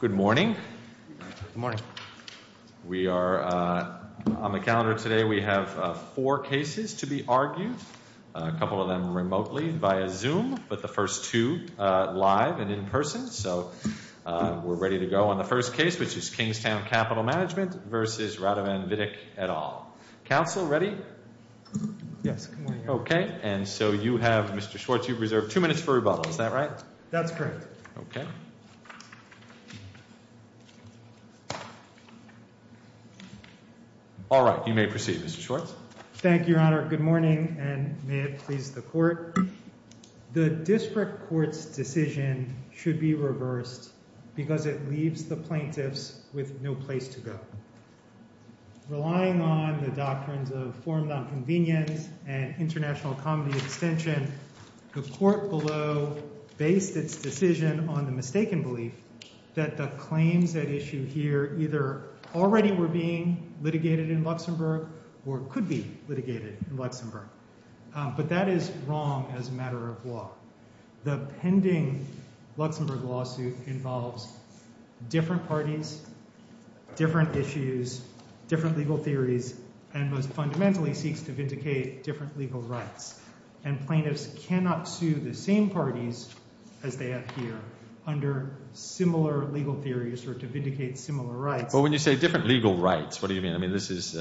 Good morning. Good morning. We are on the calendar today. We have four cases to be argued, a couple of them remotely via Zoom, but the first two live and in person. So we're ready to go on the first case, which is Kingstown Capital Management versus Radovan Vitek et al. Council, ready? Yes. Okay. And so you have, Mr. Schwartz, you've reserved two minutes for rebuttal. Is that right? That's correct. Okay. All right. You may proceed, Mr. Schwartz. Thank you, Your Honor. Good morning, and may it please the Court. The District Court's decision should be reversed because it leaves the plaintiffs with no place to go. Relying on the doctrines of form nonconvenience and international comedy extension, the Court below based its decision on the mistaken belief that the claims at issue here either already were being litigated in Luxembourg or could be litigated in Luxembourg, but that is wrong as a matter of law. The pending Luxembourg lawsuit involves different parties, different issues, different legal theories, and most fundamentally seeks to vindicate different legal rights, and plaintiffs cannot sue the same parties as they have here under similar legal theories or to vindicate similar rights. Well, when you say different legal rights, what do you mean? I mean, this is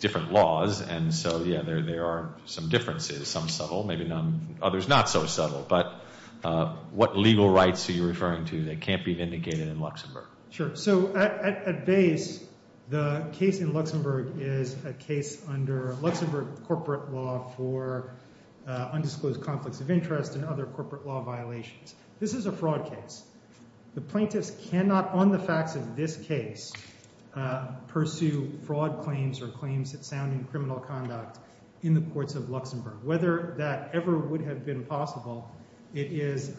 different laws, and so, yeah, there are some differences, some subtle, maybe others not so subtle, but what legal rights are you referring to that can't be vindicated in Luxembourg? Sure. So, at base, the case in Luxembourg is a case under Luxembourg corporate law for undisclosed conflicts of interest and other corporate law violations. This is a fraud case. The plaintiffs cannot, on the facts of this case, pursue fraud claims or claims that sound in criminal conduct in the courts of Luxembourg. Whether that ever would have been possible, it is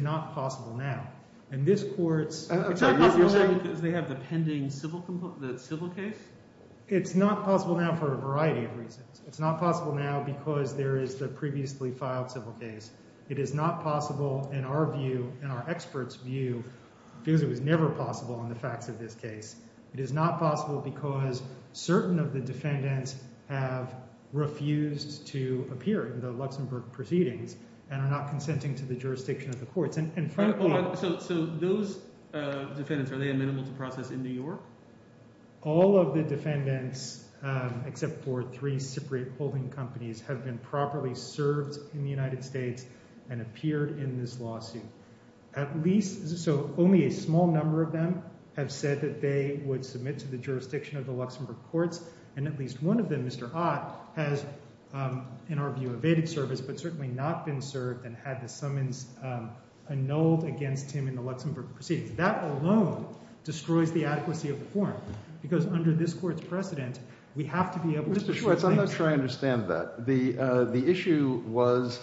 not possible now, and this court's… Because they have the pending civil case? It's not possible now for a variety of reasons. It's not possible now because there is the previously filed civil case. It is not possible in our view, in our expert's view, because it was never possible on the facts of this case. It is not possible because certain of the defendants have refused to appear in the Luxembourg proceedings and are not consenting to the jurisdiction of the courts. So, those defendants, are they amenable to process in New York? All of the defendants, except for three Cypriot holding companies, have been properly served in the United States and appeared in this lawsuit. At least, so only a small number of them have said that they would submit to the jurisdiction of the Luxembourg courts, and at least one of them, Mr. Ott, has, in our view, evaded service, but certainly not been served and had the summons annulled against him in the Luxembourg proceedings. That alone destroys the adequacy of the form, because under this court's precedent, we have to be able to… I'm not sure I understand that. The issue was,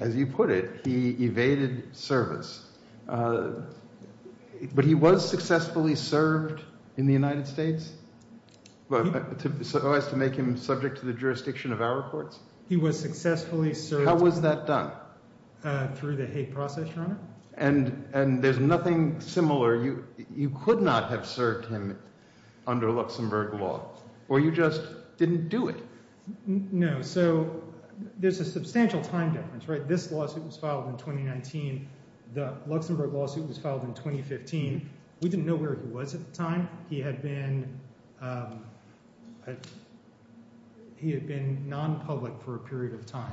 as you put it, he evaded service, but he was successfully served in the United States, so as to make him subject to the jurisdiction of our courts? He was successfully served… How was that done? And there's nothing similar. You could not have served him under Luxembourg law, or you just didn't do it. No. So, there's a substantial time difference, right? This lawsuit was filed in 2019. The Luxembourg lawsuit was filed in 2015. We didn't know where he was at the time. He had been non-public for a period of time.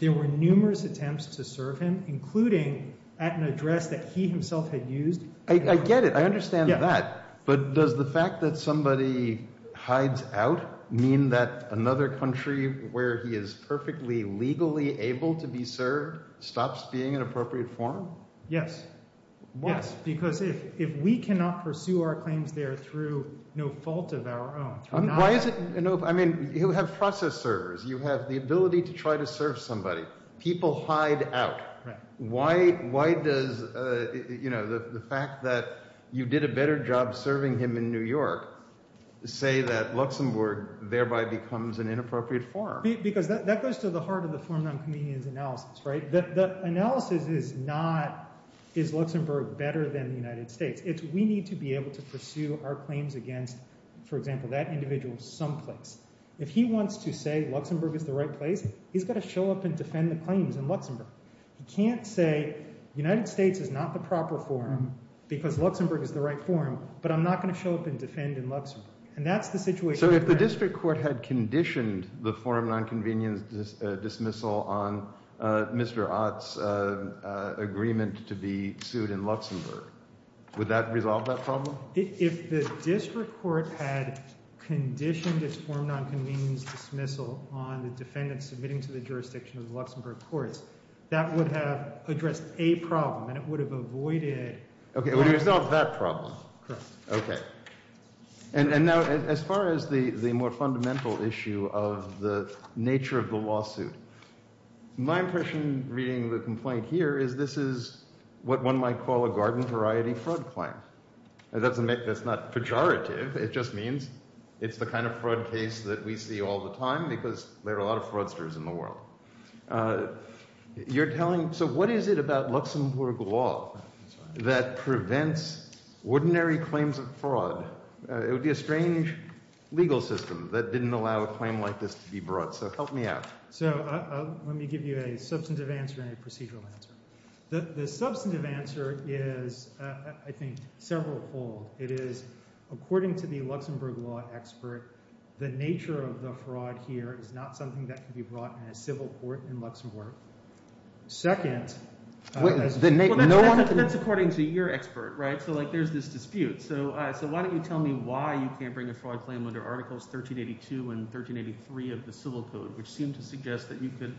There were numerous attempts to serve him, including at an address that he himself had used. I get it. I understand that. But does the fact that somebody hides out mean that another country where he is perfectly legally able to be served stops being an appropriate forum? Yes. Why? Because if we cannot pursue our claims there through no fault of our own… Why is it… I mean, you have process servers. You have the ability to try to serve somebody. People hide out. Why does the fact that you did a better job serving him in New York say that Luxembourg thereby becomes an inappropriate forum? Because that goes to the heart of the forum non-convenience analysis, right? The analysis is not, is Luxembourg better than the United States? It's, we need to be able to pursue our claims against, for example, that individual someplace. If he wants to say Luxembourg is the right place, he's got to show up and defend the claims in Luxembourg. He can't say, United States is not the proper forum because Luxembourg is the right forum, but I'm not going to show up and defend in Luxembourg. And that's the situation… So if the district court had conditioned the forum non-convenience dismissal on Mr. Ott's agreement to be sued in Luxembourg, would that resolve that problem? If the district court had conditioned its forum non-convenience dismissal on the defendant submitting to the jurisdiction of the Luxembourg courts, that would have addressed a problem, and it would have avoided… Okay, it would have resolved that problem. Correct. Okay. And now as far as the more fundamental issue of the nature of the lawsuit, my impression reading the complaint here is this is what one might call a garden variety fraud claim. That's not pejorative. It just means it's the kind of fraud case that we see all the time because there are a lot of fraudsters in the world. You're telling – so what is it about Luxembourg law that prevents ordinary claims of fraud? It would be a strange legal system that didn't allow a claim like this to be brought. So help me out. So let me give you a substantive answer and a procedural answer. The substantive answer is, I think, several fold. It is, according to the Luxembourg law expert, the nature of the fraud here is not something that can be brought in a civil court in Luxembourg. Second – That's according to your expert, right? So there's this dispute. So why don't you tell me why you can't bring a fraud claim under Articles 1382 and 1383 of the Civil Code, which seem to suggest that you could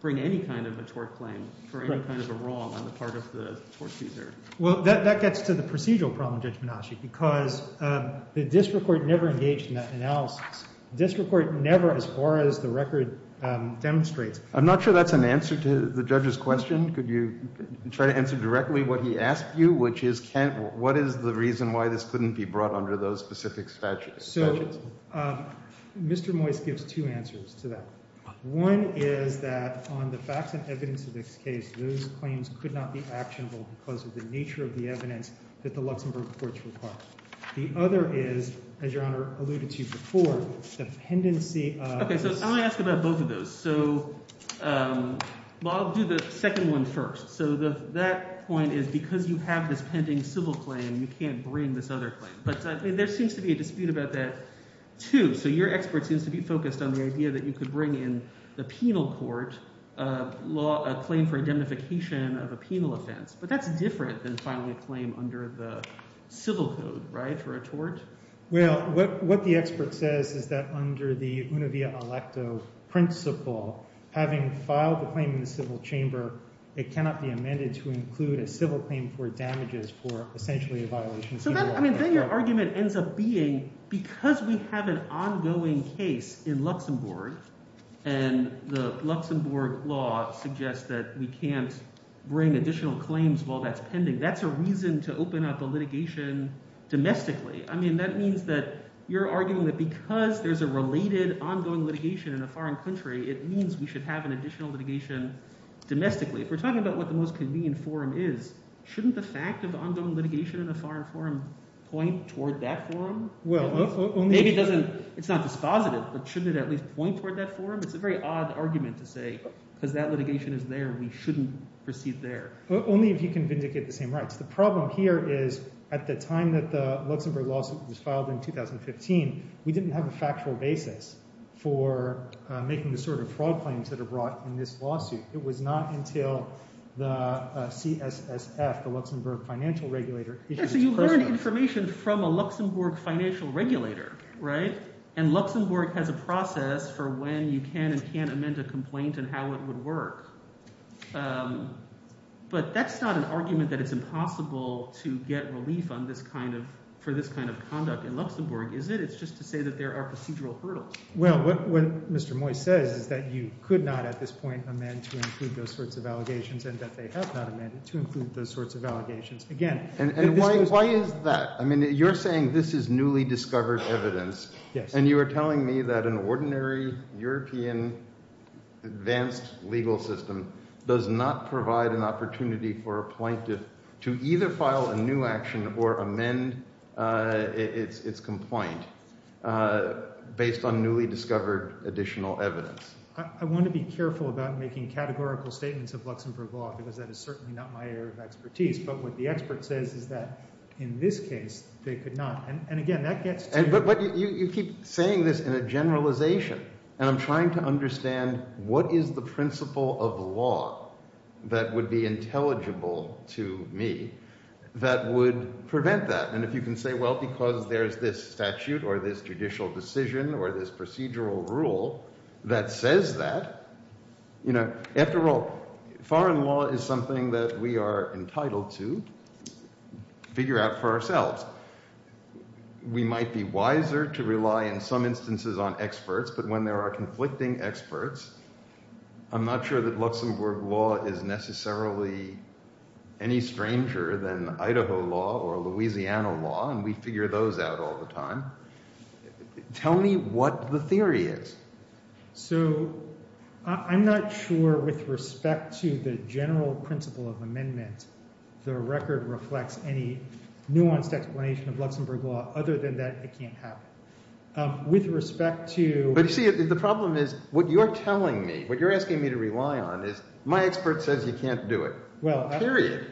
bring any kind of a tort claim for any kind of a wrong on the part of the tort user. Well, that gets to the procedural problem, Judge Menasche, because the district court never engaged in that analysis. The district court never, as far as the record demonstrates – I'm not sure that's an answer to the judge's question. Could you try to answer directly what he asked you, which is what is the reason why this couldn't be brought under those specific statutes? So Mr. Moyse gives two answers to that. One is that on the facts and evidence of this case, those claims could not be actionable because of the nature of the evidence that the Luxembourg courts require. The other is, as Your Honor alluded to before, the pendency of – Okay, so I'm going to ask about both of those. So I'll do the second one first. So that point is because you have this pending civil claim, you can't bring this other claim. But there seems to be a dispute about that too. So your expert seems to be focused on the idea that you could bring in the penal court a claim for indemnification of a penal offense. But that's different than filing a claim under the civil code, right, for a tort? Well, what the expert says is that under the univea electo principle, having filed the claim in the civil chamber, it cannot be amended to include a civil claim for damages for essentially a violation. So then your argument ends up being because we have an ongoing case in Luxembourg and the Luxembourg law suggests that we can't bring additional claims while that's pending, that's a reason to open up the litigation domestically. I mean that means that you're arguing that because there's a related ongoing litigation in a foreign country, it means we should have an additional litigation domestically. If we're talking about what the most convenient forum is, shouldn't the fact of ongoing litigation in a foreign forum point toward that forum? Maybe it doesn't – it's not dispositive, but shouldn't it at least point toward that forum? It's a very odd argument to say because that litigation is there, we shouldn't proceed there. Only if you can vindicate the same rights. The problem here is at the time that the Luxembourg lawsuit was filed in 2015, we didn't have a factual basis for making the sort of fraud claims that are brought in this lawsuit. It was not until the CSSF, the Luxembourg Financial Regulator – Yeah, so you learn information from a Luxembourg financial regulator, right? And Luxembourg has a process for when you can and can't amend a complaint and how it would work. But that's not an argument that it's impossible to get relief on this kind of – for this kind of conduct in Luxembourg, is it? It's just to say that there are procedural hurdles. Well, what Mr. Moy says is that you could not at this point amend to include those sorts of allegations and that they have not amended to include those sorts of allegations again. And why is that? I mean you're saying this is newly discovered evidence. And you are telling me that an ordinary European advanced legal system does not provide an opportunity for a plaintiff to either file a new action or amend its complaint based on newly discovered additional evidence. I want to be careful about making categorical statements of Luxembourg law because that is certainly not my area of expertise. But what the expert says is that in this case they could not. And again, that gets to – But you keep saying this in a generalization, and I'm trying to understand what is the principle of law that would be intelligible to me that would prevent that? And if you can say, well, because there's this statute or this judicial decision or this procedural rule that says that – After all, foreign law is something that we are entitled to figure out for ourselves. We might be wiser to rely in some instances on experts, but when there are conflicting experts, I'm not sure that Luxembourg law is necessarily any stranger than Idaho law or Louisiana law, and we figure those out all the time. Tell me what the theory is. So I'm not sure with respect to the general principle of amendment the record reflects any nuanced explanation of Luxembourg law. Other than that, it can't happen. With respect to – But you see, the problem is what you're telling me, what you're asking me to rely on is my expert says you can't do it. Period.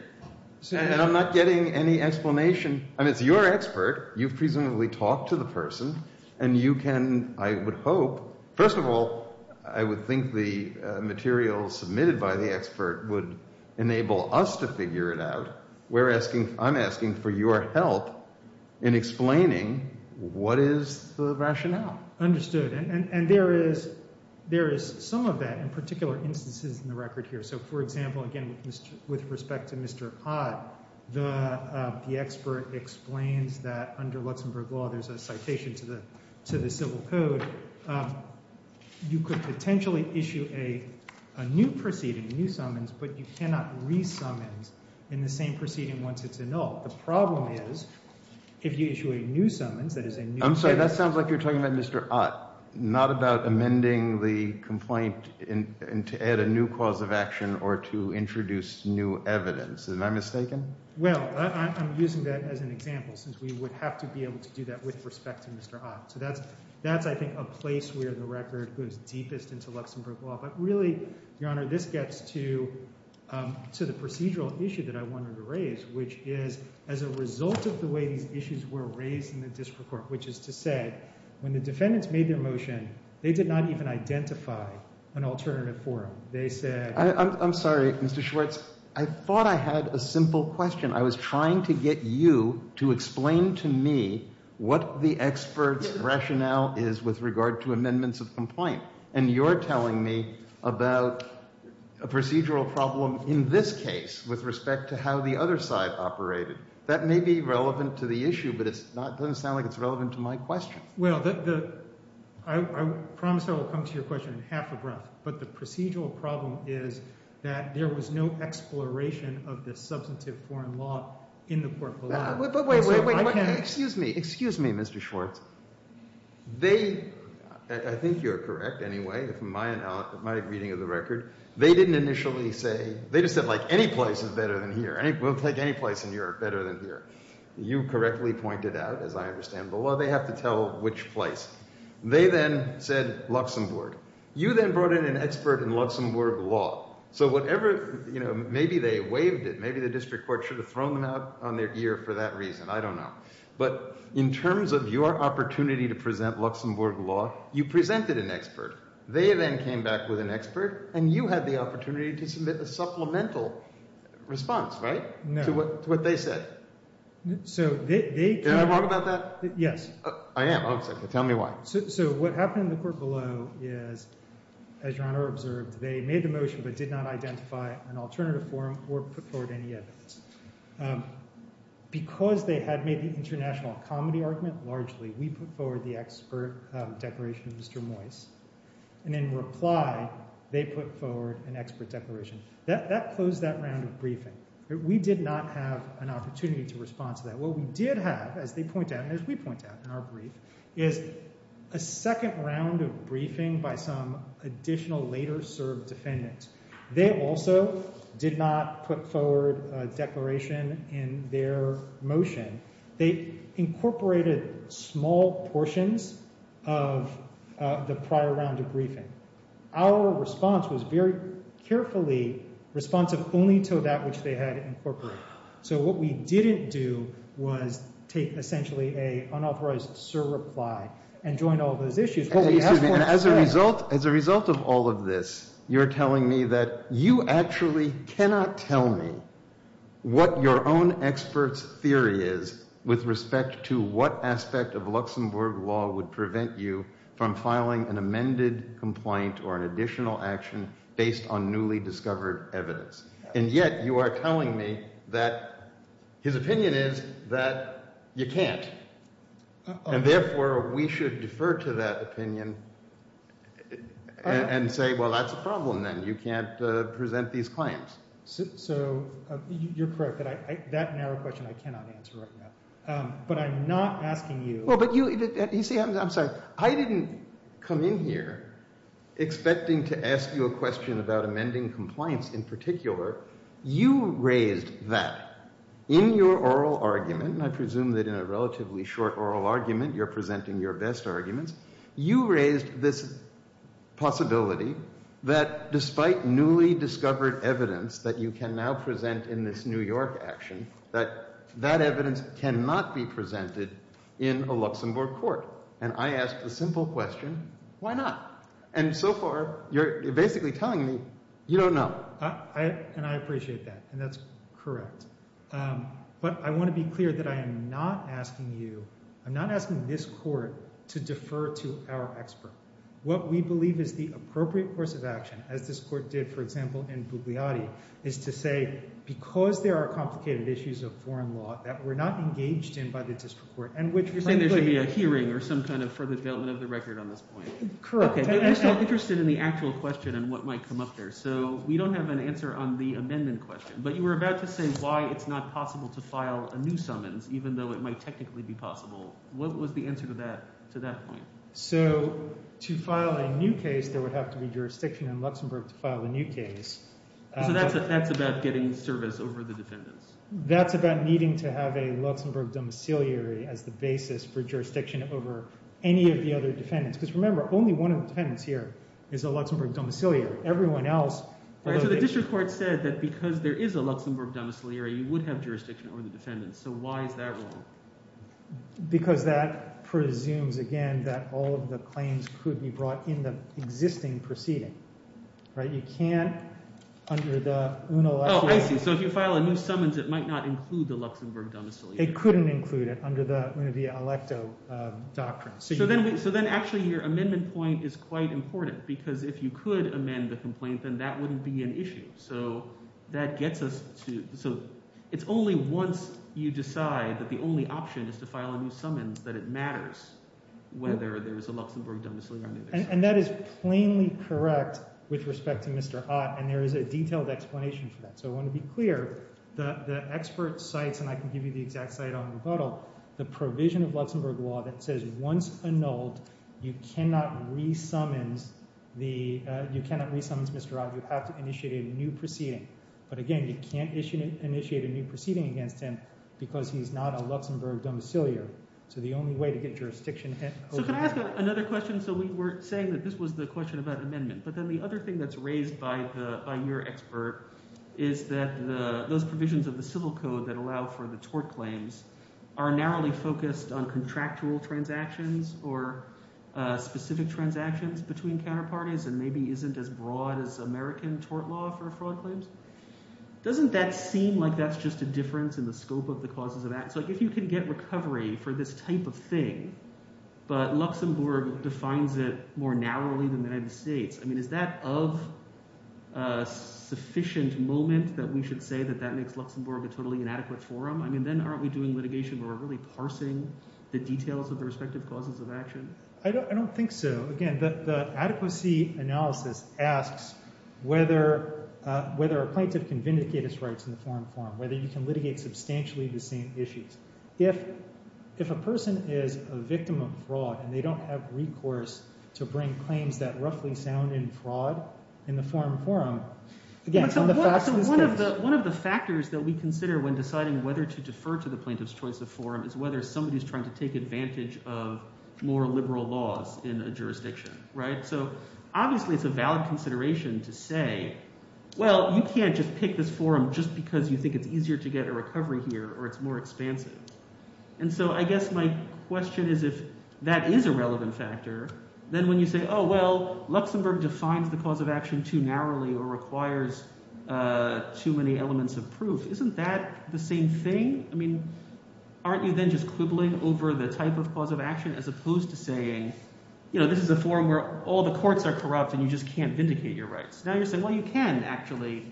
And I'm not getting any explanation. I mean it's your expert. You've presumably talked to the person, and you can, I would hope – first of all, I would think the material submitted by the expert would enable us to figure it out. We're asking – I'm asking for your help in explaining what is the rationale. Understood. And there is some of that in particular instances in the record here. So, for example, again, with respect to Mr. Ott, the expert explains that under Luxembourg law there's a citation to the civil code. You could potentially issue a new proceeding, a new summons, but you cannot re-summons in the same proceeding once it's annulled. The problem is if you issue a new summons, that is a new case – Am I mistaken? Well, I'm using that as an example since we would have to be able to do that with respect to Mr. Ott. So that's, I think, a place where the record goes deepest into Luxembourg law. But really, Your Honor, this gets to the procedural issue that I wanted to raise, which is as a result of the way these issues were raised in the district court, which is to say when the defendants made their motion, they did not even identify an alternative forum. They said – I'm sorry, Mr. Schwartz. I thought I had a simple question. I was trying to get you to explain to me what the expert's rationale is with regard to amendments of complaint. And you're telling me about a procedural problem in this case with respect to how the other side operated. That may be relevant to the issue, but it doesn't sound like it's relevant to my question. Well, I promise I will come to your question in half a breath. But the procedural problem is that there was no exploration of this substantive foreign law in the court below. But wait, wait, wait. Excuse me. Excuse me, Mr. Schwartz. They – I think you're correct anyway from my reading of the record. They didn't initially say – they just said like any place is better than here. We'll take any place in Europe better than here. You correctly pointed out, as I understand the law, they have to tell which place. They then said Luxembourg. You then brought in an expert in Luxembourg law. So whatever – maybe they waived it. Maybe the district court should have thrown them out on their ear for that reason. I don't know. But in terms of your opportunity to present Luxembourg law, you presented an expert. They then came back with an expert, and you had the opportunity to submit a supplemental response, right? No. To what they said. So they – Did I wrong about that? Yes. I am. Tell me why. So what happened in the court below is, as Your Honor observed, they made the motion but did not identify an alternative form or put forward any evidence. Because they had made the international comedy argument, largely, we put forward the expert declaration of Mr. Moyse. And in reply, they put forward an expert declaration. That closed that round of briefing. We did not have an opportunity to respond to that. What we did have, as they point out and as we point out in our brief, is a second round of briefing by some additional later served defendants. They also did not put forward a declaration in their motion. They incorporated small portions of the prior round of briefing. Our response was very carefully responsive only to that which they had incorporated. So what we didn't do was take, essentially, an unauthorized surreply and join all those issues. What we asked for is fair. As a result of all of this, you're telling me that you actually cannot tell me what your own expert's theory is with respect to what aspect of Luxembourg law would prevent you from filing an amended complaint or an additional action based on newly discovered evidence. And yet you are telling me that his opinion is that you can't. And therefore, we should defer to that opinion and say, well, that's a problem then. You can't present these claims. So you're correct. That narrow question I cannot answer right now. But I'm not asking you – I'm sorry. I didn't come in here expecting to ask you a question about amending compliance in particular. You raised that in your oral argument. I presume that in a relatively short oral argument, you're presenting your best arguments. You raised this possibility that despite newly discovered evidence that you can now present in this New York action, that that evidence cannot be presented in a Luxembourg court. And I ask the simple question, why not? And so far, you're basically telling me you don't know. And I appreciate that, and that's correct. But I want to be clear that I am not asking you – I'm not asking this court to defer to our expert. What we believe is the appropriate course of action, as this court did, for example, in Bugliotti, is to say because there are complicated issues of foreign law that were not engaged in by the district court and which – You're saying there should be a hearing or some kind of further development of the record on this point. Correct. Okay, but we're still interested in the actual question and what might come up there. So we don't have an answer on the amendment question, but you were about to say why it's not possible to file a new summons, even though it might technically be possible. What was the answer to that point? So to file a new case, there would have to be jurisdiction in Luxembourg to file a new case. So that's about getting service over the defendants. That's about needing to have a Luxembourg domiciliary as the basis for jurisdiction over any of the other defendants. Because remember, only one of the defendants here is a Luxembourg domiciliary. Everyone else – So the district court said that because there is a Luxembourg domiciliary, you would have jurisdiction over the defendants. So why is that wrong? Because that presumes, again, that all of the claims could be brought in the existing proceeding. You can't under the UNELECTO. Oh, I see. So if you file a new summons, it might not include the Luxembourg domiciliary. It couldn't include it under the UNELECTO doctrine. So then actually your amendment point is quite important because if you could amend the complaint, then that wouldn't be an issue. So that gets us to – so it's only once you decide that the only option is to file a new summons that it matters whether there is a Luxembourg domiciliary. And that is plainly correct with respect to Mr. Ott, and there is a detailed explanation for that. So I want to be clear, the expert cites – and I can give you the exact cite on rebuttal – the provision of Luxembourg law that says once annulled, you cannot re-summons Mr. Ott. You have to initiate a new proceeding. But again, you can't initiate a new proceeding against him because he's not a Luxembourg domiciliary. So the only way to get jurisdiction over – So can I ask another question? So we were saying that this was the question about amendment, but then the other thing that's raised by your expert is that those provisions of the civil code that allow for the tort claims are narrowly focused on contractual transactions or specific transactions between counterparties and maybe isn't as broad as American tort law for fraud claims. Doesn't that seem like that's just a difference in the scope of the causes of acts? Like if you can get recovery for this type of thing, but Luxembourg defines it more narrowly than the United States, I mean is that of a sufficient moment that we should say that that makes Luxembourg a totally inadequate forum? I mean then aren't we doing litigation where we're really parsing the details of the respective causes of action? I don't think so. Again, the adequacy analysis asks whether a plaintiff can vindicate his rights in the forum forum, whether you can litigate substantially the same issues. If a person is a victim of fraud and they don't have recourse to bring claims that roughly sound in fraud in the forum forum – One of the factors that we consider when deciding whether to defer to the plaintiff's choice of forum is whether somebody is trying to take advantage of more liberal laws in a jurisdiction. So obviously it's a valid consideration to say, well, you can't just pick this forum just because you think it's easier to get a recovery here or it's more expansive. And so I guess my question is if that is a relevant factor, then when you say, oh, well, Luxembourg defines the cause of action too narrowly or requires too many elements of proof, isn't that the same thing? I mean aren't you then just quibbling over the type of cause of action as opposed to saying this is a forum where all the courts are corrupt and you just can't vindicate your rights? Now you're saying, well, you can actually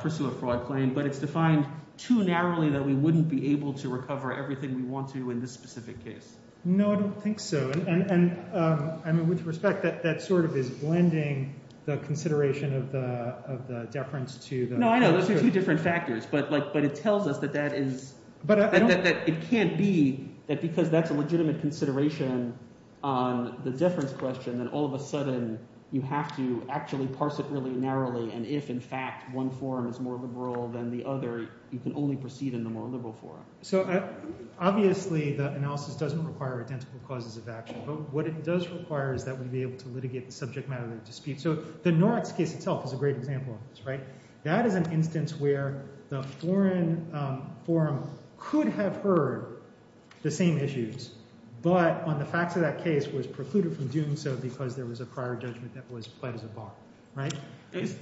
pursue a fraud claim, but it's defined too narrowly that we wouldn't be able to recover everything we want to in this specific case. No, I don't think so. And I mean with respect, that sort of is blending the consideration of the deference to the – No, I know. Those are two different factors, but it tells us that that is – that it can't be that because that's a legitimate consideration on the deference question that all of a sudden you have to actually parse it really narrowly. And if in fact one forum is more liberal than the other, you can only proceed in the more liberal forum. So obviously the analysis doesn't require identical causes of action, but what it does require is that we be able to litigate the subject matter of the dispute. So the Noritz case itself is a great example of this. That is an instance where the foreign forum could have heard the same issues, but on the facts of that case was precluded from doing so because there was a prior judgment that was played as a bar.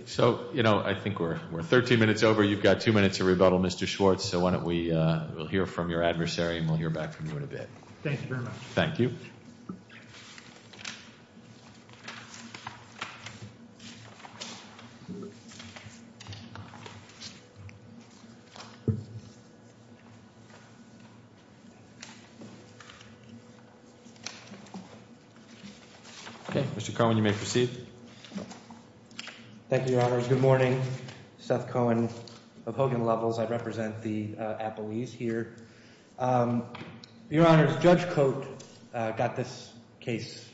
So I think we're 13 minutes over. You've got two minutes to rebuttal, Mr. Schwartz, so why don't we – we'll hear from your adversary and we'll hear back from you in a bit. Thank you very much. Thank you. Thank you. Okay, Mr. Cohen, you may proceed. Thank you, Your Honors. Good morning. Seth Cohen of Hogan Levels. I represent the appellees here. Your Honors, Judge Cote got this case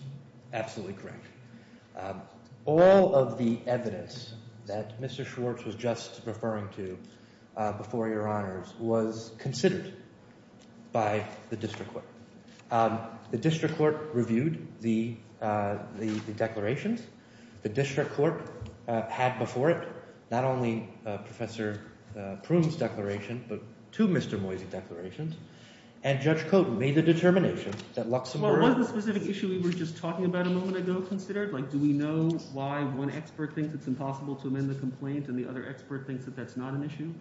absolutely correct. All of the evidence that Mr. Schwartz was just referring to before Your Honors was considered by the district court. The district court reviewed the declarations. The district court had before it not only Professor Prune's declaration but two Mr. Moyse declarations, and Judge Cote made the determination that Luxembourg – Well, was the specific issue we were just talking about a moment ago considered? Like do we know why one expert thinks it's impossible to amend the complaint and the other expert thinks that that's not an issue?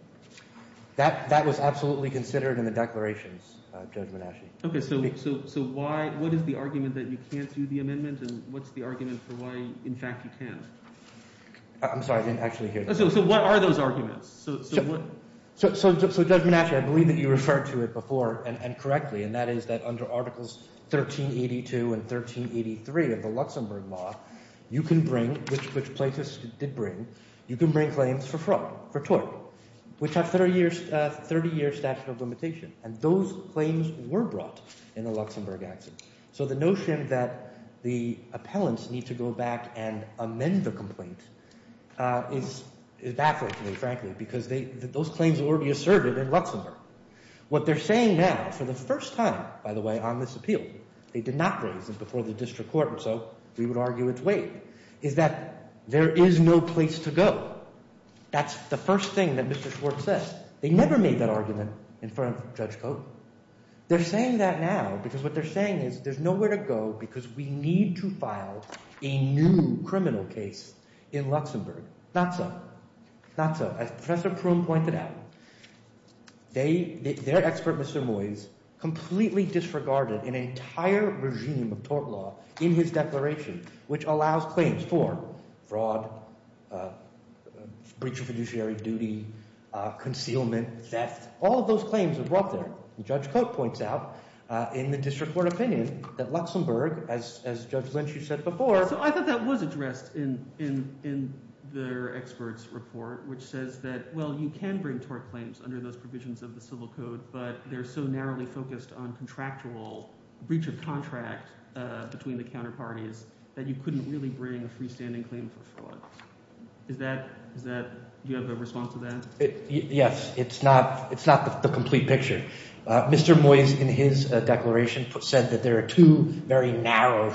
That was absolutely considered in the declarations, Judge Menasche. Okay, so why – what is the argument that you can't do the amendment and what's the argument for why, in fact, you can? I'm sorry. I didn't actually hear that. So what are those arguments? So what – So, Judge Menasche, I believe that you referred to it before and correctly, and that is that under Articles 1382 and 1383 of the Luxembourg law, you can bring – which Platis did bring – you can bring claims for fraud, for tort, which have 30-year statute of limitation. And those claims were brought in a Luxembourg accident. So the notion that the appellants need to go back and amend the complaint is baffling to me, frankly, because they – those claims will already be asserted in Luxembourg. What they're saying now, for the first time, by the way, on this appeal – they did not raise it before the district court and so we would argue it's vague – is that there is no place to go. That's the first thing that Mr. Schwartz says. They never made that argument in front of Judge Cote. They're saying that now because what they're saying is there's nowhere to go because we need to file a new criminal case in Luxembourg. Not so. Not so. As Professor Proom pointed out, they – their expert, Mr. Moyes, completely disregarded an entire regime of tort law in his declaration, which allows claims for fraud, breach of fiduciary duty, concealment, theft. All of those claims were brought there, and Judge Cote points out in the district court opinion that Luxembourg, as Judge Lynch, you said before – says that, well, you can bring tort claims under those provisions of the civil code, but they're so narrowly focused on contractual breach of contract between the counterparties that you couldn't really bring a freestanding claim for fraud. Is that – is that – do you have a response to that? Yes. It's not – it's not the complete picture. Mr. Moyes, in his declaration, said that there are two very narrow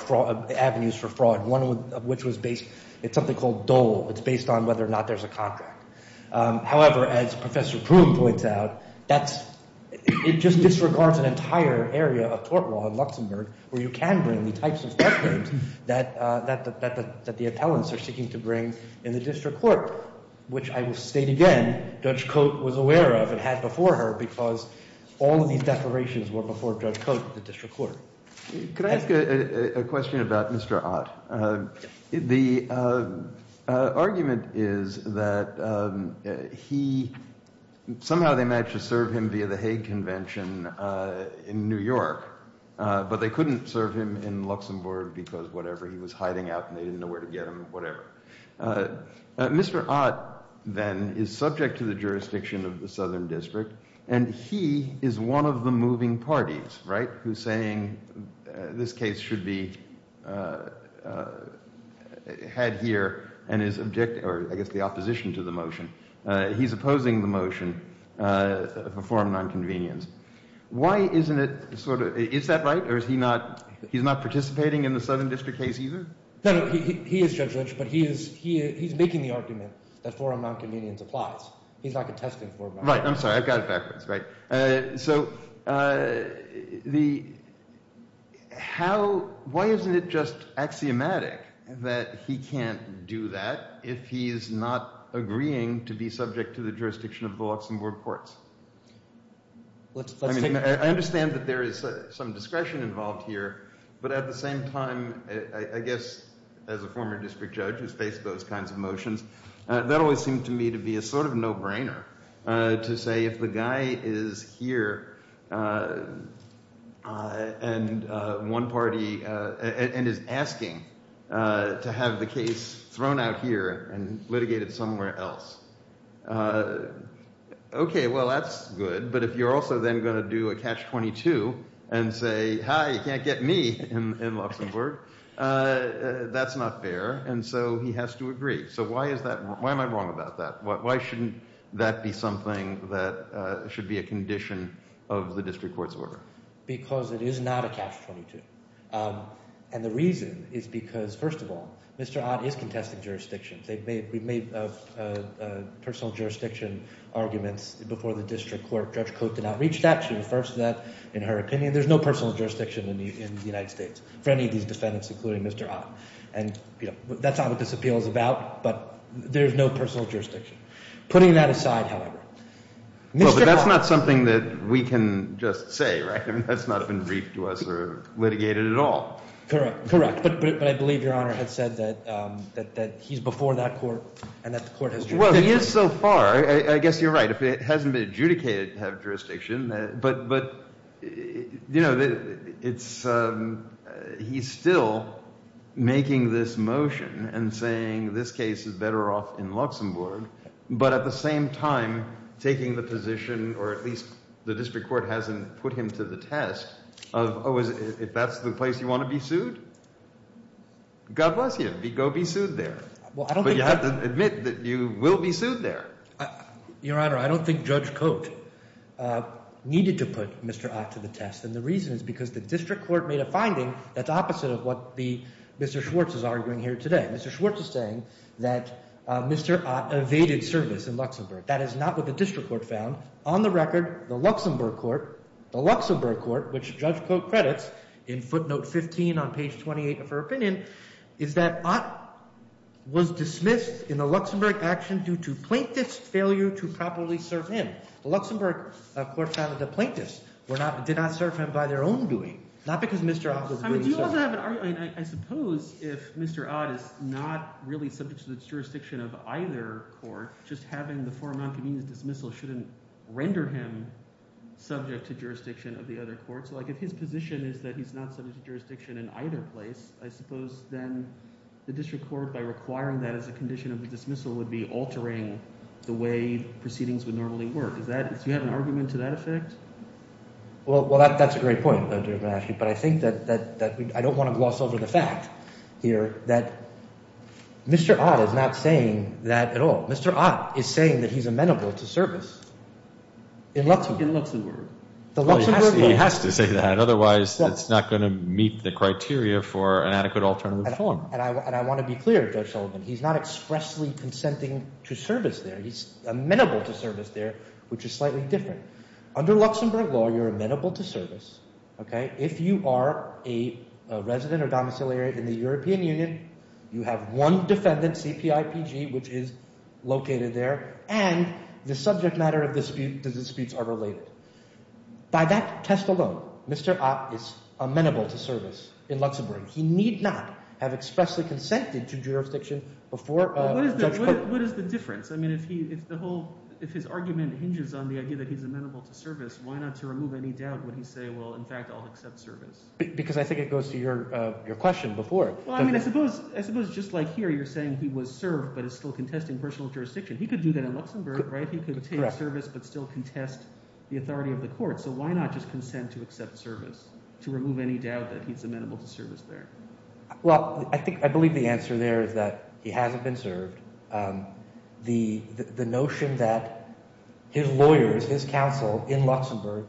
avenues for fraud, one of which was based – it's something called Dole. It's based on whether or not there's a contract. However, as Professor Proom points out, that's – it just disregards an entire area of tort law in Luxembourg where you can bring the types of theft claims that the appellants are seeking to bring in the district court, which I will state again, Judge Cote was aware of and had before her because all of these declarations were before Judge Cote, the district court. Could I ask a question about Mr. Ott? The argument is that he – somehow they managed to serve him via the Hague Convention in New York, but they couldn't serve him in Luxembourg because whatever, he was hiding out and they didn't know where to get him, whatever. Mr. Ott, then, is subject to the jurisdiction of the Southern District, and he is one of the moving parties, right, who's saying this case should be had here and is – or I guess the opposition to the motion. He's opposing the motion of a form of nonconvenience. Why isn't it sort of – is that right or is he not – he's not participating in the Southern District case either? No, no. He is Judge Lynch, but he is making the argument that form of nonconvenience applies. He's not contesting form of nonconvenience. Right. I'm sorry. I've got it backwards. So the – how – why isn't it just axiomatic that he can't do that if he's not agreeing to be subject to the jurisdiction of the Luxembourg courts? I understand that there is some discretion involved here, but at the same time, I guess as a former district judge who's faced those kinds of motions, that always seemed to me to be a sort of no-brainer to say if the guy is here and one party – and is asking to have the case thrown out here and litigated somewhere else. Okay, well, that's good, but if you're also then going to do a catch-22 and say, hi, you can't get me in Luxembourg, that's not fair, and so he has to agree. So why is that – why am I wrong about that? Why shouldn't that be something that should be a condition of the district court's order? Because it is not a catch-22, and the reason is because, first of all, Mr. Ott is contesting jurisdiction. We've made personal jurisdiction arguments before the district court. Judge Cote did not reach that. She refers to that in her opinion. There's no personal jurisdiction in the United States for any of these defendants, including Mr. Ott, and that's not what this appeal is about, but there's no personal jurisdiction. Putting that aside, however, Mr. Ott – Well, but that's not something that we can just say, right? I mean that's not been briefed to us or litigated at all. Correct, correct, but I believe Your Honor had said that he's before that court and that the court has jurisdiction. But at the same time, taking the position, or at least the district court hasn't put him to the test of, oh, is – if that's the place you want to be sued, God bless you. Go be sued there. Well, I don't think – But you have to admit that you will be sued there. Your Honor, I don't think Judge Cote needed to put Mr. Ott to the test, and the reason is because the district court made a finding that's opposite of what the – Mr. Schwartz is arguing here today. Mr. Schwartz is saying that Mr. Ott evaded service in Luxembourg. That is not what the district court found. On the record, the Luxembourg court – the Luxembourg court, which Judge Cote credits in footnote 15 on page 28 of her opinion, is that Ott was dismissed in the Luxembourg action due to plaintiff's failure to properly serve him. The Luxembourg court found that the plaintiffs were not – did not serve him by their own doing, not because Mr. Ott was doing so. Do you also have an – I suppose if Mr. Ott is not really subject to the jurisdiction of either court, just having the form of noncommittee dismissal shouldn't render him subject to jurisdiction of the other court. So like if his position is that he's not subject to jurisdiction in either place, I suppose then the district court, by requiring that as a condition of the dismissal, would be altering the way proceedings would normally work. Is that – do you have an argument to that effect? Well, that's a great point, Judge Benashi. But I think that – I don't want to gloss over the fact here that Mr. Ott is not saying that at all. Mr. Ott is saying that he's amenable to service in Luxembourg. In Luxembourg. He has to say that. Otherwise, it's not going to meet the criteria for an adequate alternative form. And I want to be clear, Judge Sullivan. He's not expressly consenting to service there. He's amenable to service there, which is slightly different. Under Luxembourg law, you're amenable to service. If you are a resident or domiciliary in the European Union, you have one defendant, CPIPG, which is located there. And the subject matter of the disputes are related. By that test alone, Mr. Ott is amenable to service in Luxembourg. He need not have expressly consented to jurisdiction before – What is the difference? I mean if the whole – if his argument hinges on the idea that he's amenable to service, why not to remove any doubt when you say, well, in fact, I'll accept service? Because I think it goes to your question before. Well, I mean I suppose just like here you're saying he was served but is still contesting personal jurisdiction. He could do that in Luxembourg. He could take service but still contest the authority of the court. So why not just consent to accept service to remove any doubt that he's amenable to service there? Well, I think – I believe the answer there is that he hasn't been served. The notion that his lawyers, his counsel in Luxembourg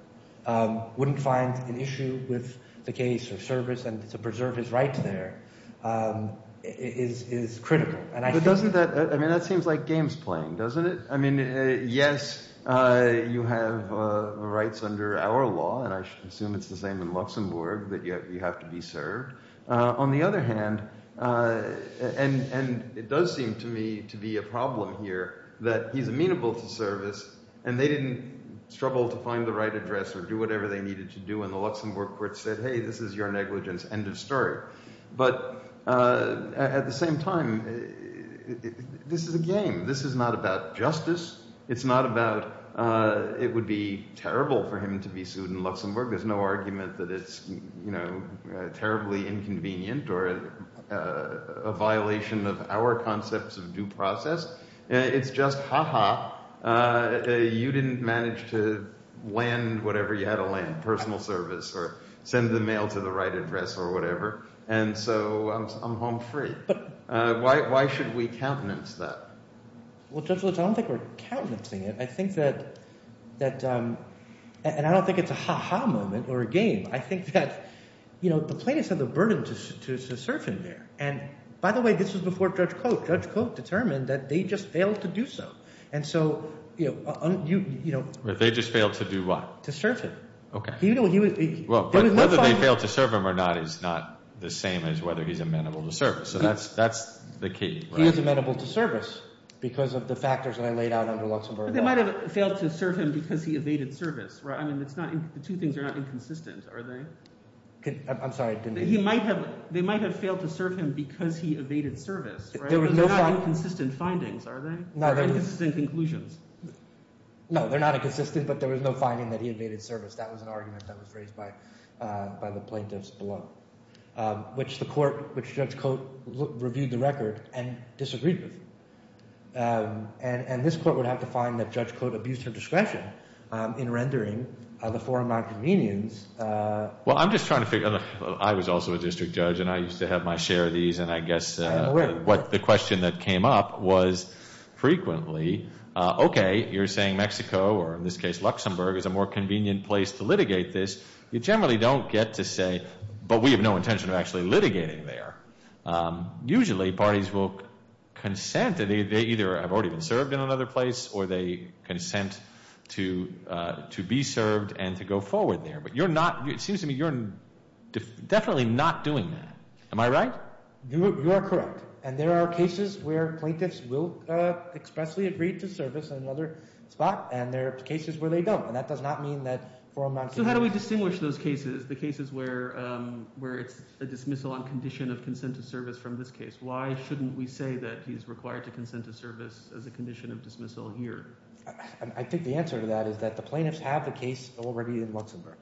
wouldn't find an issue with the case or service and to preserve his rights there is critical. But doesn't that – I mean that seems like games playing, doesn't it? I mean yes, you have rights under our law, and I assume it's the same in Luxembourg that you have to be served. On the other hand – and it does seem to me to be a problem here that he's amenable to service and they didn't struggle to find the right address or do whatever they needed to do. And the Luxembourg court said, hey, this is your negligence, end of story. But at the same time, this is a game. This is not about justice. It's not about it would be terrible for him to be sued in Luxembourg. There's no argument that it's terribly inconvenient or a violation of our concepts of due process. It's just ha-ha. You didn't manage to land whatever you had to land, personal service or send the mail to the right address or whatever. And so I'm home free. Why should we countenance that? Well, Judge Lutz, I don't think we're countenancing it. I think that – and I don't think it's a ha-ha moment or a game. I think that the plaintiffs have the burden to serve him there. And by the way, this was before Judge Cote. Judge Cote determined that they just failed to do so. And so – They just failed to do what? To serve him. Okay. Whether they failed to serve him or not is not the same as whether he's amenable to service. So that's the key. He is amenable to service because of the factors that I laid out under Luxembourg law. But they might have failed to serve him because he evaded service, right? I mean it's not – the two things are not inconsistent, are they? I'm sorry. He might have – they might have failed to serve him because he evaded service, right? They're not inconsistent findings, are they? Or inconsistent conclusions? No, they're not inconsistent, but there was no finding that he evaded service. That was an argument that was raised by the plaintiffs below, which the court – which Judge Cote reviewed the record and disagreed with. And this court would have to find that Judge Cote abused her discretion in rendering the forum nonconvenience. Well, I'm just trying to figure – I was also a district judge, and I used to have my share of these. And I guess what the question that came up was frequently, okay, you're saying Mexico, or in this case Luxembourg, is a more convenient place to litigate this. You generally don't get to say, but we have no intention of actually litigating there. Usually, parties will consent. They either have already been served in another place or they consent to be served and to go forward there. But you're not – it seems to me you're definitely not doing that. Am I right? You are correct. And there are cases where plaintiffs will expressly agree to service in another spot, and there are cases where they don't. And that does not mean that forum nonconvenience – So how do we distinguish those cases, the cases where it's a dismissal on condition of consent to service from this case? Why shouldn't we say that he's required to consent to service as a condition of dismissal here? I think the answer to that is that the plaintiffs have the case already in Luxembourg.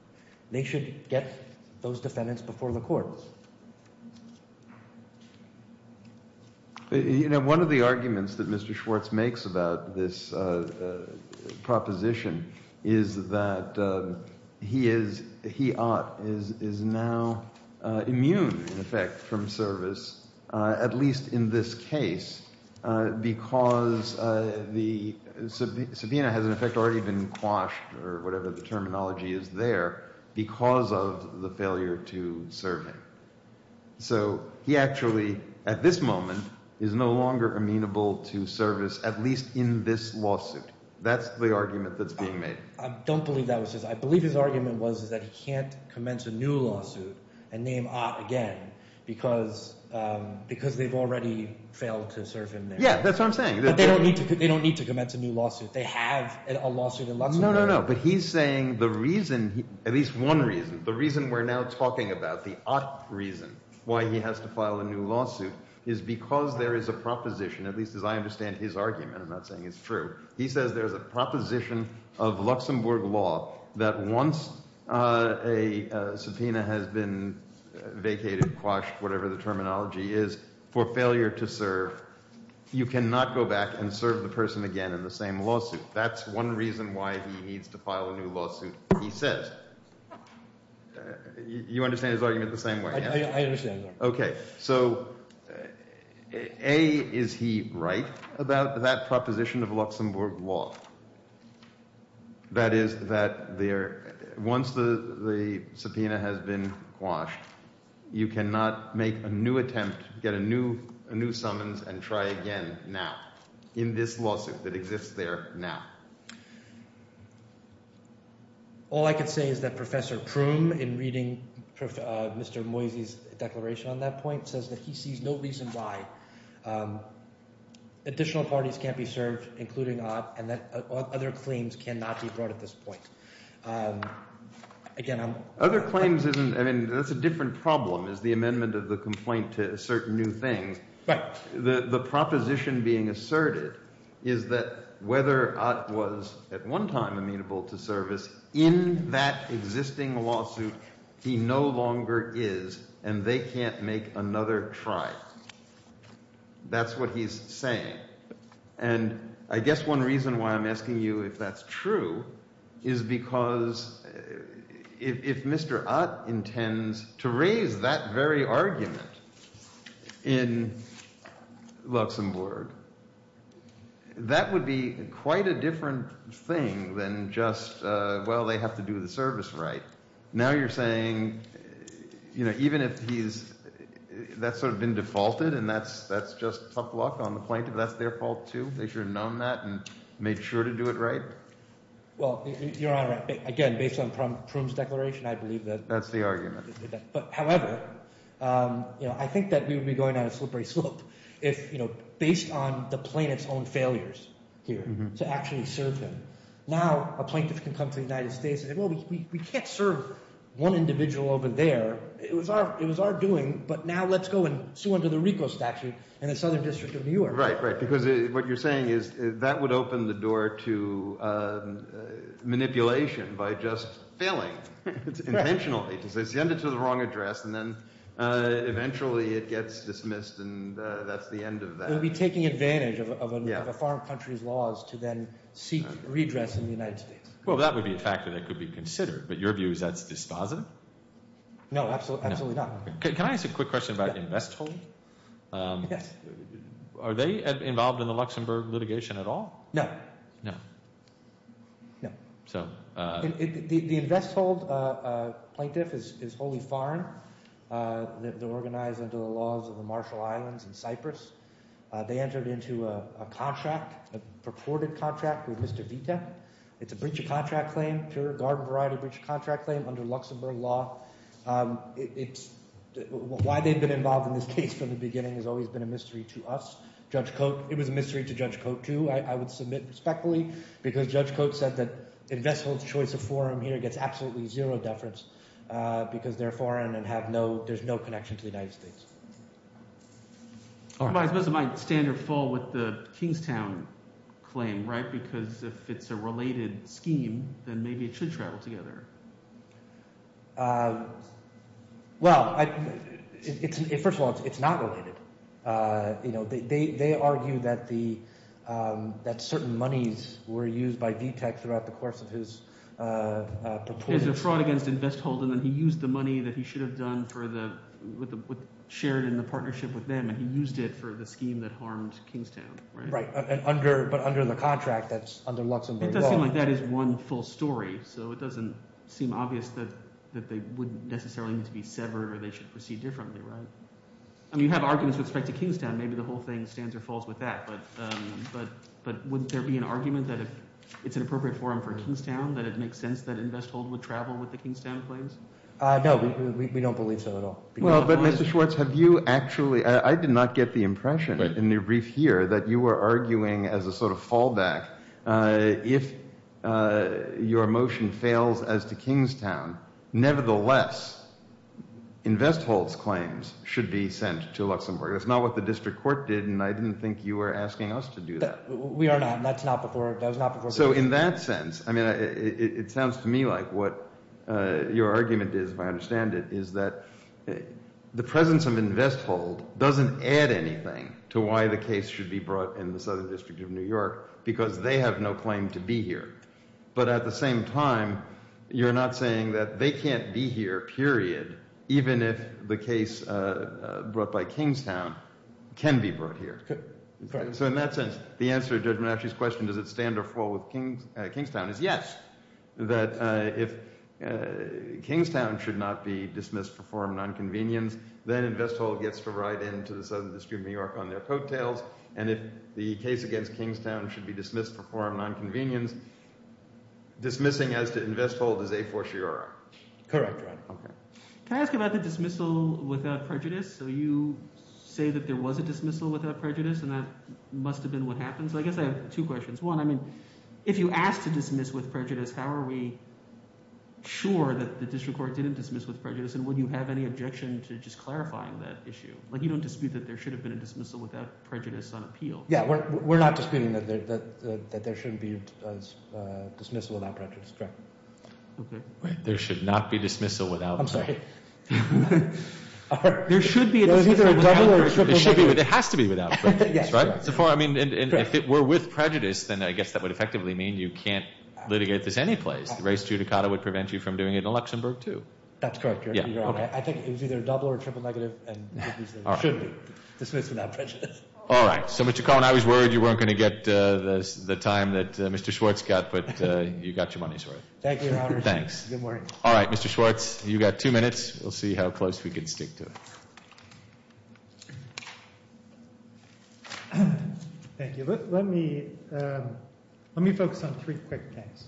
They should get those defendants before the court. You know, one of the arguments that Mr. Schwartz makes about this proposition is that he is – he ought – is now immune, in effect, from service, at least in this case, because the – So he actually, at this moment, is no longer amenable to service, at least in this lawsuit. That's the argument that's being made. I don't believe that was his – I believe his argument was that he can't commence a new lawsuit and name Ott again because they've already failed to serve him there. Yeah, that's what I'm saying. But they don't need to commence a new lawsuit. They have a lawsuit in Luxembourg. No, no, no, no, but he's saying the reason – at least one reason – the reason we're now talking about, the Ott reason why he has to file a new lawsuit is because there is a proposition, at least as I understand his argument. I'm not saying it's true. He says there's a proposition of Luxembourg law that once a subpoena has been vacated, quashed, whatever the terminology is, for failure to serve, you cannot go back and serve the person again in the same lawsuit. That's one reason why he needs to file a new lawsuit, he says. You understand his argument the same way? I understand. Okay. So A, is he right about that proposition of Luxembourg law? That is that there – once the subpoena has been quashed, you cannot make a new attempt, get a new summons, and try again now in this lawsuit that exists there now. All I can say is that Professor Proom, in reading Mr. Moisey's declaration on that point, says that he sees no reason why additional parties can't be served, including Ott, and that other claims cannot be brought at this point. Again, I'm – Other claims isn't – I mean that's a different problem is the amendment of the complaint to assert new things. Right. The proposition being asserted is that whether Ott was at one time amenable to service in that existing lawsuit, he no longer is, and they can't make another try. That's what he's saying. And I guess one reason why I'm asking you if that's true is because if Mr. Ott intends to raise that very argument in Luxembourg, that would be quite a different thing than just, well, they have to do the service right. Now you're saying even if he's – that's sort of been defaulted and that's just tough luck on the plaintiff. That's their fault too? They should have known that and made sure to do it right? Well, Your Honor, again, based on Proom's declaration, I believe that – That's the argument. However, I think that we would be going down a slippery slope if based on the plaintiff's own failures here to actually serve him. Now a plaintiff can come to the United States and say, well, we can't serve one individual over there. It was our doing, but now let's go and sue under the RICO statute in the Southern District of New York. Right, right, because what you're saying is that would open the door to manipulation by just failing intentionally. They send it to the wrong address and then eventually it gets dismissed and that's the end of that. It would be taking advantage of a foreign country's laws to then seek redress in the United States. Well, that would be a factor that could be considered, but your view is that's dispositive? No, absolutely not. Can I ask a quick question about Investhold? Yes. Are they involved in the Luxembourg litigation at all? No. No. No. The Investhold plaintiff is wholly foreign. They're organized under the laws of the Marshall Islands and Cyprus. They entered into a contract, a purported contract with Mr. Vita. It's a breach of contract claim, pure garden variety breach of contract claim under Luxembourg law. Why they've been involved in this case from the beginning has always been a mystery to us. Judge Cote, it was a mystery to Judge Cote too. I would submit respectfully because Judge Cote said that Investhold's choice of forum here gets absolutely zero deference because they're foreign and have no – there's no connection to the United States. I suppose it might stand or fall with the Kingstown claim because if it's a related scheme, then maybe it should travel together. Well, first of all, it's not related. They argue that certain monies were used by Vita throughout the course of his purported – There's a fraud against Investhold, and then he used the money that he should have done for the – shared in the partnership with them, and he used it for the scheme that harmed Kingstown. Right, but under the contract that's under Luxembourg law. It does seem like that is one full story, so it doesn't seem obvious that they wouldn't necessarily need to be severed or they should proceed differently. I mean you have arguments with respect to Kingstown. Maybe the whole thing stands or falls with that, but wouldn't there be an argument that if it's an appropriate forum for Kingstown that it makes sense that Investhold would travel with the Kingstown claims? No, we don't believe so at all. Well, but Mr. Schwartz, have you actually – I did not get the impression in the brief here that you were arguing as a sort of fallback if your motion fails as to Kingstown. Nevertheless, Investhold's claims should be sent to Luxembourg. That's not what the district court did, and I didn't think you were asking us to do that. We are not, and that's not before – that was not before – The presence of Investhold doesn't add anything to why the case should be brought in the Southern District of New York because they have no claim to be here. But at the same time, you're not saying that they can't be here, period, even if the case brought by Kingstown can be brought here. So in that sense, the answer to Judge Menasche's question, does it stand or fall with Kingstown, is yes, that if Kingstown should not be dismissed for forum nonconvenience, then Investhold gets to ride into the Southern District of New York on their coattails. And if the case against Kingstown should be dismissed for forum nonconvenience, dismissing as to Investhold is a fortiori. Correct, Ron. Can I ask about the dismissal without prejudice? So you say that there was a dismissal without prejudice, and that must have been what happened. So I guess I have two questions. One, I mean, if you asked to dismiss with prejudice, how are we sure that the district court didn't dismiss with prejudice, and would you have any objection to just clarifying that issue? Like you don't dispute that there should have been a dismissal without prejudice on appeal. Yeah, we're not disputing that there shouldn't be a dismissal without prejudice, correct. There should not be dismissal without prejudice. I'm sorry. There should be a dismissal without prejudice. It has to be without prejudice, right? So far, I mean, if it were with prejudice, then I guess that would effectively mean you can't litigate this any place. The race judicata would prevent you from doing it in Luxembourg, too. That's correct. I think it was either double or triple negative, and it should be dismissed without prejudice. All right. So, Mr. Cohen, I was worried you weren't going to get the time that Mr. Schwartz got, but you got your money's worth. Thank you, Your Honor. Thanks. Good morning. All right. Mr. Schwartz, you've got two minutes. We'll see how close we can stick to it. Thank you. Let me focus on three quick things.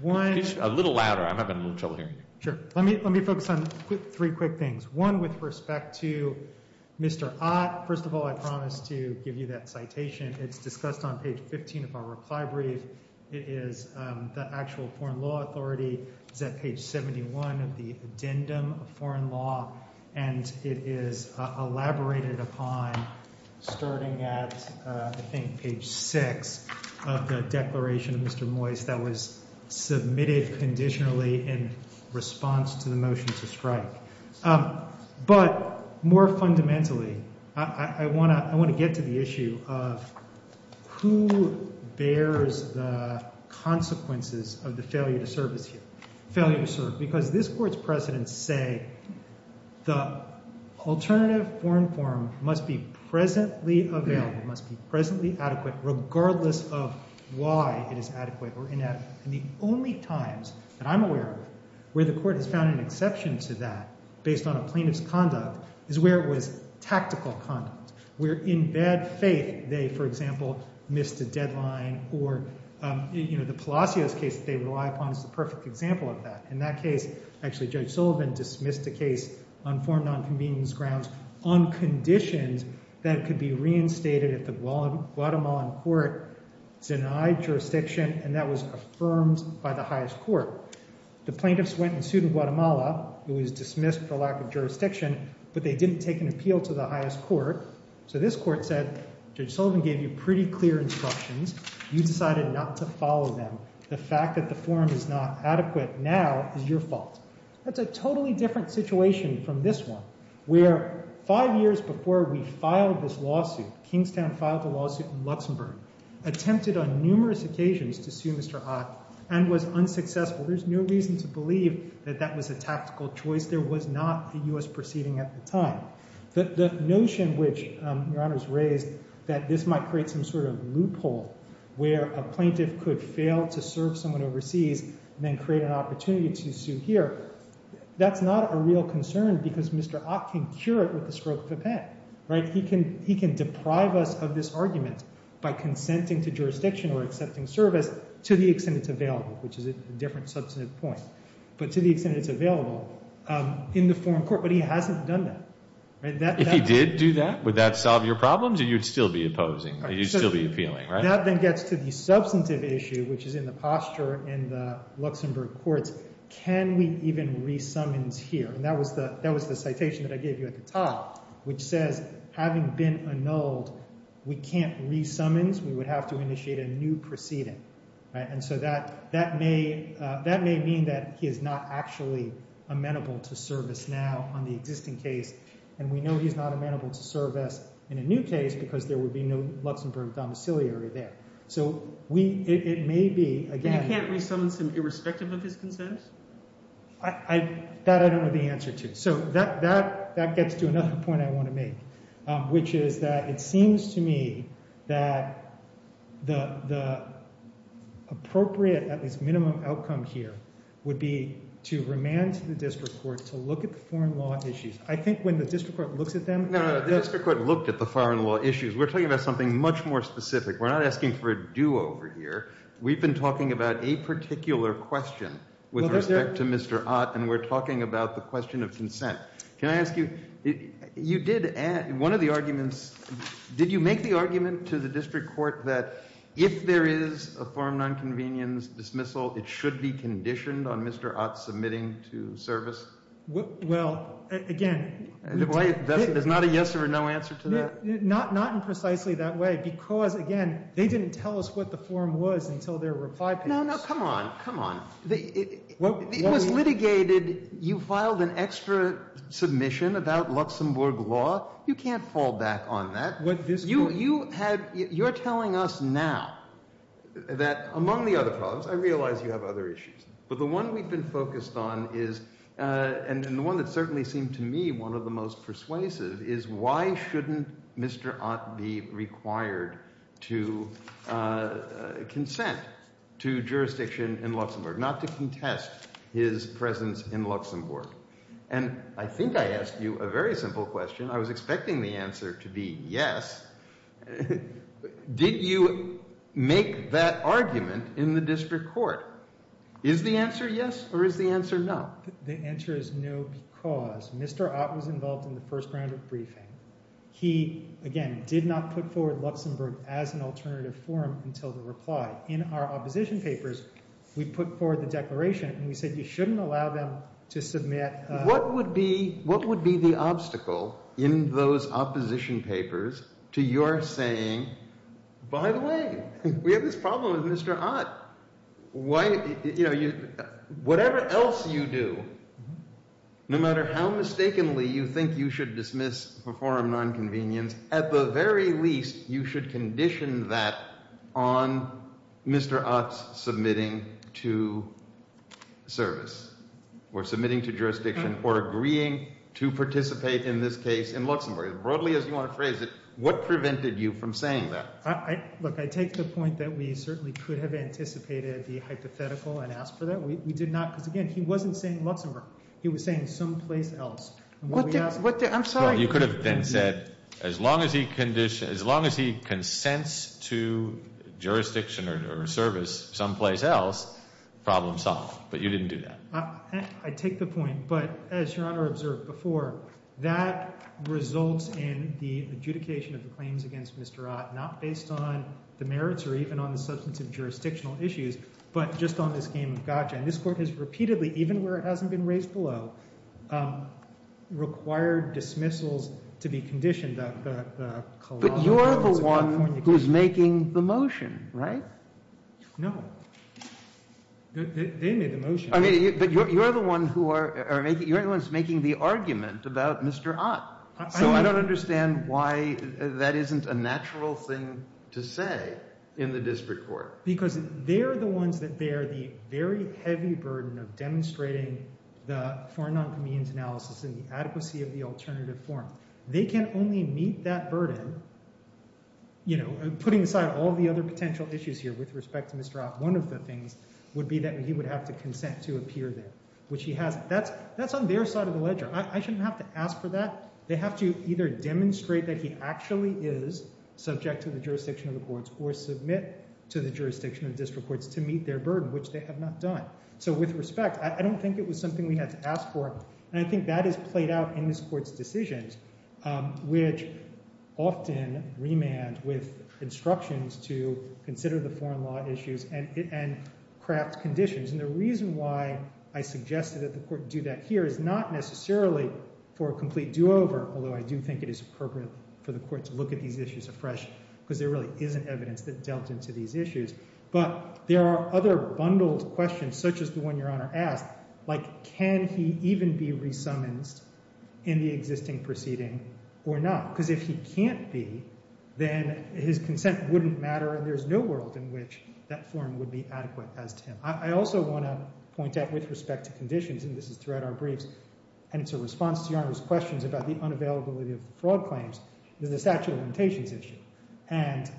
One. A little louder. I'm having a little trouble hearing you. Sure. Let me focus on three quick things. One, with respect to Mr. Ott, first of all, I promise to give you that citation. It's discussed on page 15 of our reply brief. It is the actual foreign law authority. It's at page 71 of the addendum of foreign law, and it is elaborated upon starting at, I think, page 6 of the declaration of Mr. Moyse that was submitted conditionally in response to the motion to strike. But more fundamentally, I want to get to the issue of who bears the consequences of the failure to serve. Because this Court's precedents say the alternative foreign form must be presently available, must be presently adequate, regardless of why it is adequate or inadequate. And the only times that I'm aware of where the Court has found an exception to that, based on a plaintiff's conduct, is where it was tactical conduct. Where in bad faith, they, for example, missed a deadline or, you know, the Palacios case that they rely upon is the perfect example of that. In that case, actually, Judge Sullivan dismissed a case on foreign nonconvenience grounds on conditions that could be reinstated if the Guatemalan court denied jurisdiction, and that was affirmed by the highest court. The plaintiffs went and sued in Guatemala. It was dismissed for lack of jurisdiction, but they didn't take an appeal to the highest court. So this court said, Judge Sullivan gave you pretty clear instructions. You decided not to follow them. The fact that the form is not adequate now is your fault. That's a totally different situation from this one, where five years before we filed this lawsuit, Kingstown filed a lawsuit in Luxembourg, attempted on numerous occasions to sue Mr. Ott, and was unsuccessful. There's no reason to believe that that was a tactical choice. There was not a U.S. proceeding at the time. The notion which Your Honor has raised that this might create some sort of loophole where a plaintiff could fail to serve someone overseas and then create an opportunity to sue here, that's not a real concern because Mr. Ott can cure it with the stroke of a pen, right? He can deprive us of this argument by consenting to jurisdiction or accepting service to the extent it's available, which is a different substantive point, but to the extent it's available in the foreign court. But he hasn't done that. If he did do that, would that solve your problems or you'd still be opposing? You'd still be appealing, right? That then gets to the substantive issue, which is in the posture in the Luxembourg courts. Can we even re-summons here? And that was the citation that I gave you at the top, which says, having been annulled, we can't re-summons. We would have to initiate a new proceeding. And so that may mean that he is not actually amenable to service now on the existing case, and we know he's not amenable to service in a new case because there would be no Luxembourg domiciliary there. So it may be, again— You can't re-summons him irrespective of his consent? That I don't know the answer to. So that gets to another point I want to make, which is that it seems to me that the appropriate, at least minimum, outcome here would be to remand to the district court to look at the foreign law issues. I think when the district court looks at them— No, no, no. The district court looked at the foreign law issues. We're talking about something much more specific. We're not asking for a do-over here. We've been talking about a particular question with respect to Mr. Ott, and we're talking about the question of consent. Can I ask you—you did add—one of the arguments—did you make the argument to the district court that if there is a form of nonconvenience dismissal, it should be conditioned on Mr. Ott submitting to service? Well, again— There's not a yes or a no answer to that? Not in precisely that way because, again, they didn't tell us what the form was until their reply page. No, no. Come on. Come on. It was litigated—you filed an extra submission about Luxembourg law. You can't fall back on that. You're telling us now that among the other problems—I realize you have other issues, but the one we've been focused on is— should Mr. Ott be required to consent to jurisdiction in Luxembourg, not to contest his presence in Luxembourg? And I think I asked you a very simple question. I was expecting the answer to be yes. Did you make that argument in the district court? Is the answer yes or is the answer no? The answer is no because Mr. Ott was involved in the first round of briefing. He, again, did not put forward Luxembourg as an alternative form until the reply. In our opposition papers, we put forward the declaration and we said you shouldn't allow them to submit— What would be the obstacle in those opposition papers to your saying, by the way, we have this problem with Mr. Ott? Whatever else you do, no matter how mistakenly you think you should dismiss or perform nonconvenience, at the very least you should condition that on Mr. Ott's submitting to service or submitting to jurisdiction or agreeing to participate in this case in Luxembourg. Broadly, as you want to phrase it, what prevented you from saying that? Look, I take the point that we certainly could have anticipated the hypothetical and asked for that. We did not because, again, he wasn't saying Luxembourg. He was saying someplace else. I'm sorry. Well, you could have then said as long as he consents to jurisdiction or service someplace else, problem solved. But you didn't do that. I take the point. But as Your Honor observed before, that results in the adjudication of the claims against Mr. Ott not based on the merits or even on the substantive jurisdictional issues, but just on this game of gotcha. And this Court has repeatedly, even where it hasn't been raised below, required dismissals to be conditioned. But you're the one who's making the motion, right? No. They made the motion. But you're the one who are making the argument about Mr. Ott. So I don't understand why that isn't a natural thing to say in the district court. Because they're the ones that bear the very heavy burden of demonstrating the foreign noncommittee's analysis and the adequacy of the alternative forum. They can only meet that burden. You know, putting aside all the other potential issues here with respect to Mr. Ott, one of the things would be that he would have to consent to appear there, which he has. That's on their side of the ledger. I shouldn't have to ask for that. They have to either demonstrate that he actually is subject to the jurisdiction of the courts or submit to the jurisdiction of district courts to meet their burden, which they have not done. So with respect, I don't think it was something we had to ask for. And I think that is played out in this court's decisions, which often remand with instructions to consider the foreign law issues and craft conditions. And the reason why I suggested that the court do that here is not necessarily for a complete do-over, although I do think it is appropriate for the court to look at these issues afresh, because there really isn't evidence that dealt into these issues. But there are other bundled questions, such as the one Your Honor asked, like can he even be re-summoned in the existing proceeding or not? Because if he can't be, then his consent wouldn't matter, and there's no world in which that forum would be adequate as to him. I also want to point out with respect to conditions, and this is throughout our briefs, and it's a response to Your Honor's questions about the unavailability of the fraud claims, the statute of limitations issue. And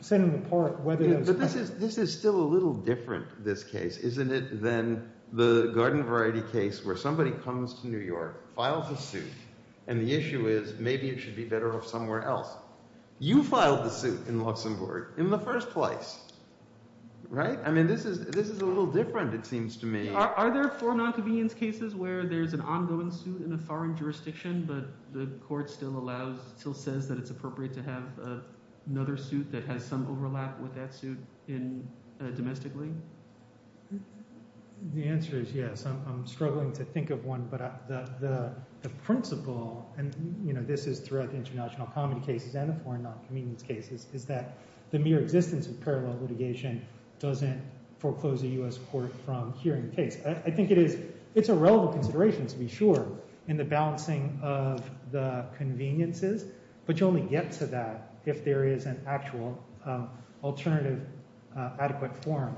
setting them apart, whether those – This is still a little different, this case, isn't it, than the garden variety case where somebody comes to New York, files a suit, and the issue is maybe it should be better off somewhere else. You filed the suit in Luxembourg in the first place, right? I mean this is a little different it seems to me. Are there four nonconvenience cases where there's an ongoing suit in a foreign jurisdiction but the court still allows – still says that it's appropriate to have another suit that has some overlap with that suit domestically? The answer is yes. I'm struggling to think of one, but the principle, and this is throughout the international comedy cases and the foreign nonconvenience cases, is that the mere existence of parallel litigation doesn't foreclose a U.S. court from hearing the case. I think it is – it's a relevant consideration to be sure in the balancing of the conveniences, but you only get to that if there is an actual alternative adequate form.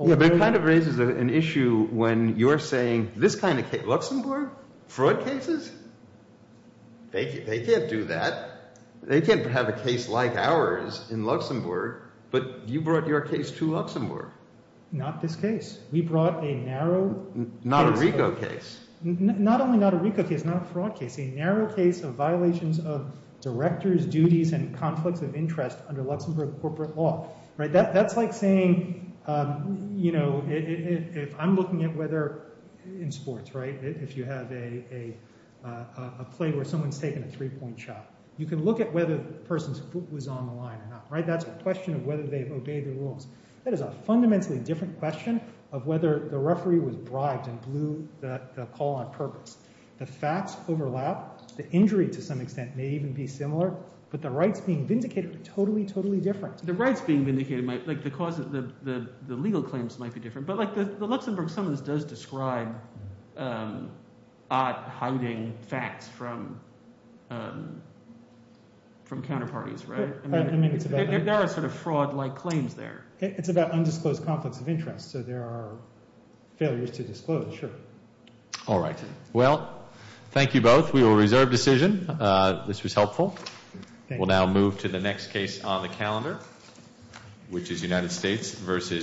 It kind of raises an issue when you're saying this kind of – Luxembourg? Fraud cases? They can't do that. They can't have a case like ours in Luxembourg, but you brought your case to Luxembourg. Not this case. We brought a narrow case. Not a RICO case. Not only not a RICO case, not a fraud case. It's a narrow case of violations of directors' duties and conflicts of interest under Luxembourg corporate law. That's like saying, you know, if I'm looking at whether – in sports, right? If you have a play where someone's taking a three-point shot, you can look at whether the person's foot was on the line or not. That's a question of whether they've obeyed the rules. That is a fundamentally different question of whether the referee was bribed and blew the call on purpose. The facts overlap. The injury to some extent may even be similar, but the rights being vindicated are totally, totally different. The rights being vindicated might – like the legal claims might be different, but like the Luxembourg summons does describe hiding facts from counterparties, right? There are sort of fraud-like claims there. It's about undisclosed conflicts of interest, so there are failures to disclose, sure. All right. Well, thank you both. We will reserve decision. This was helpful. We'll now move to the next case on the calendar, which is United States v. Bright.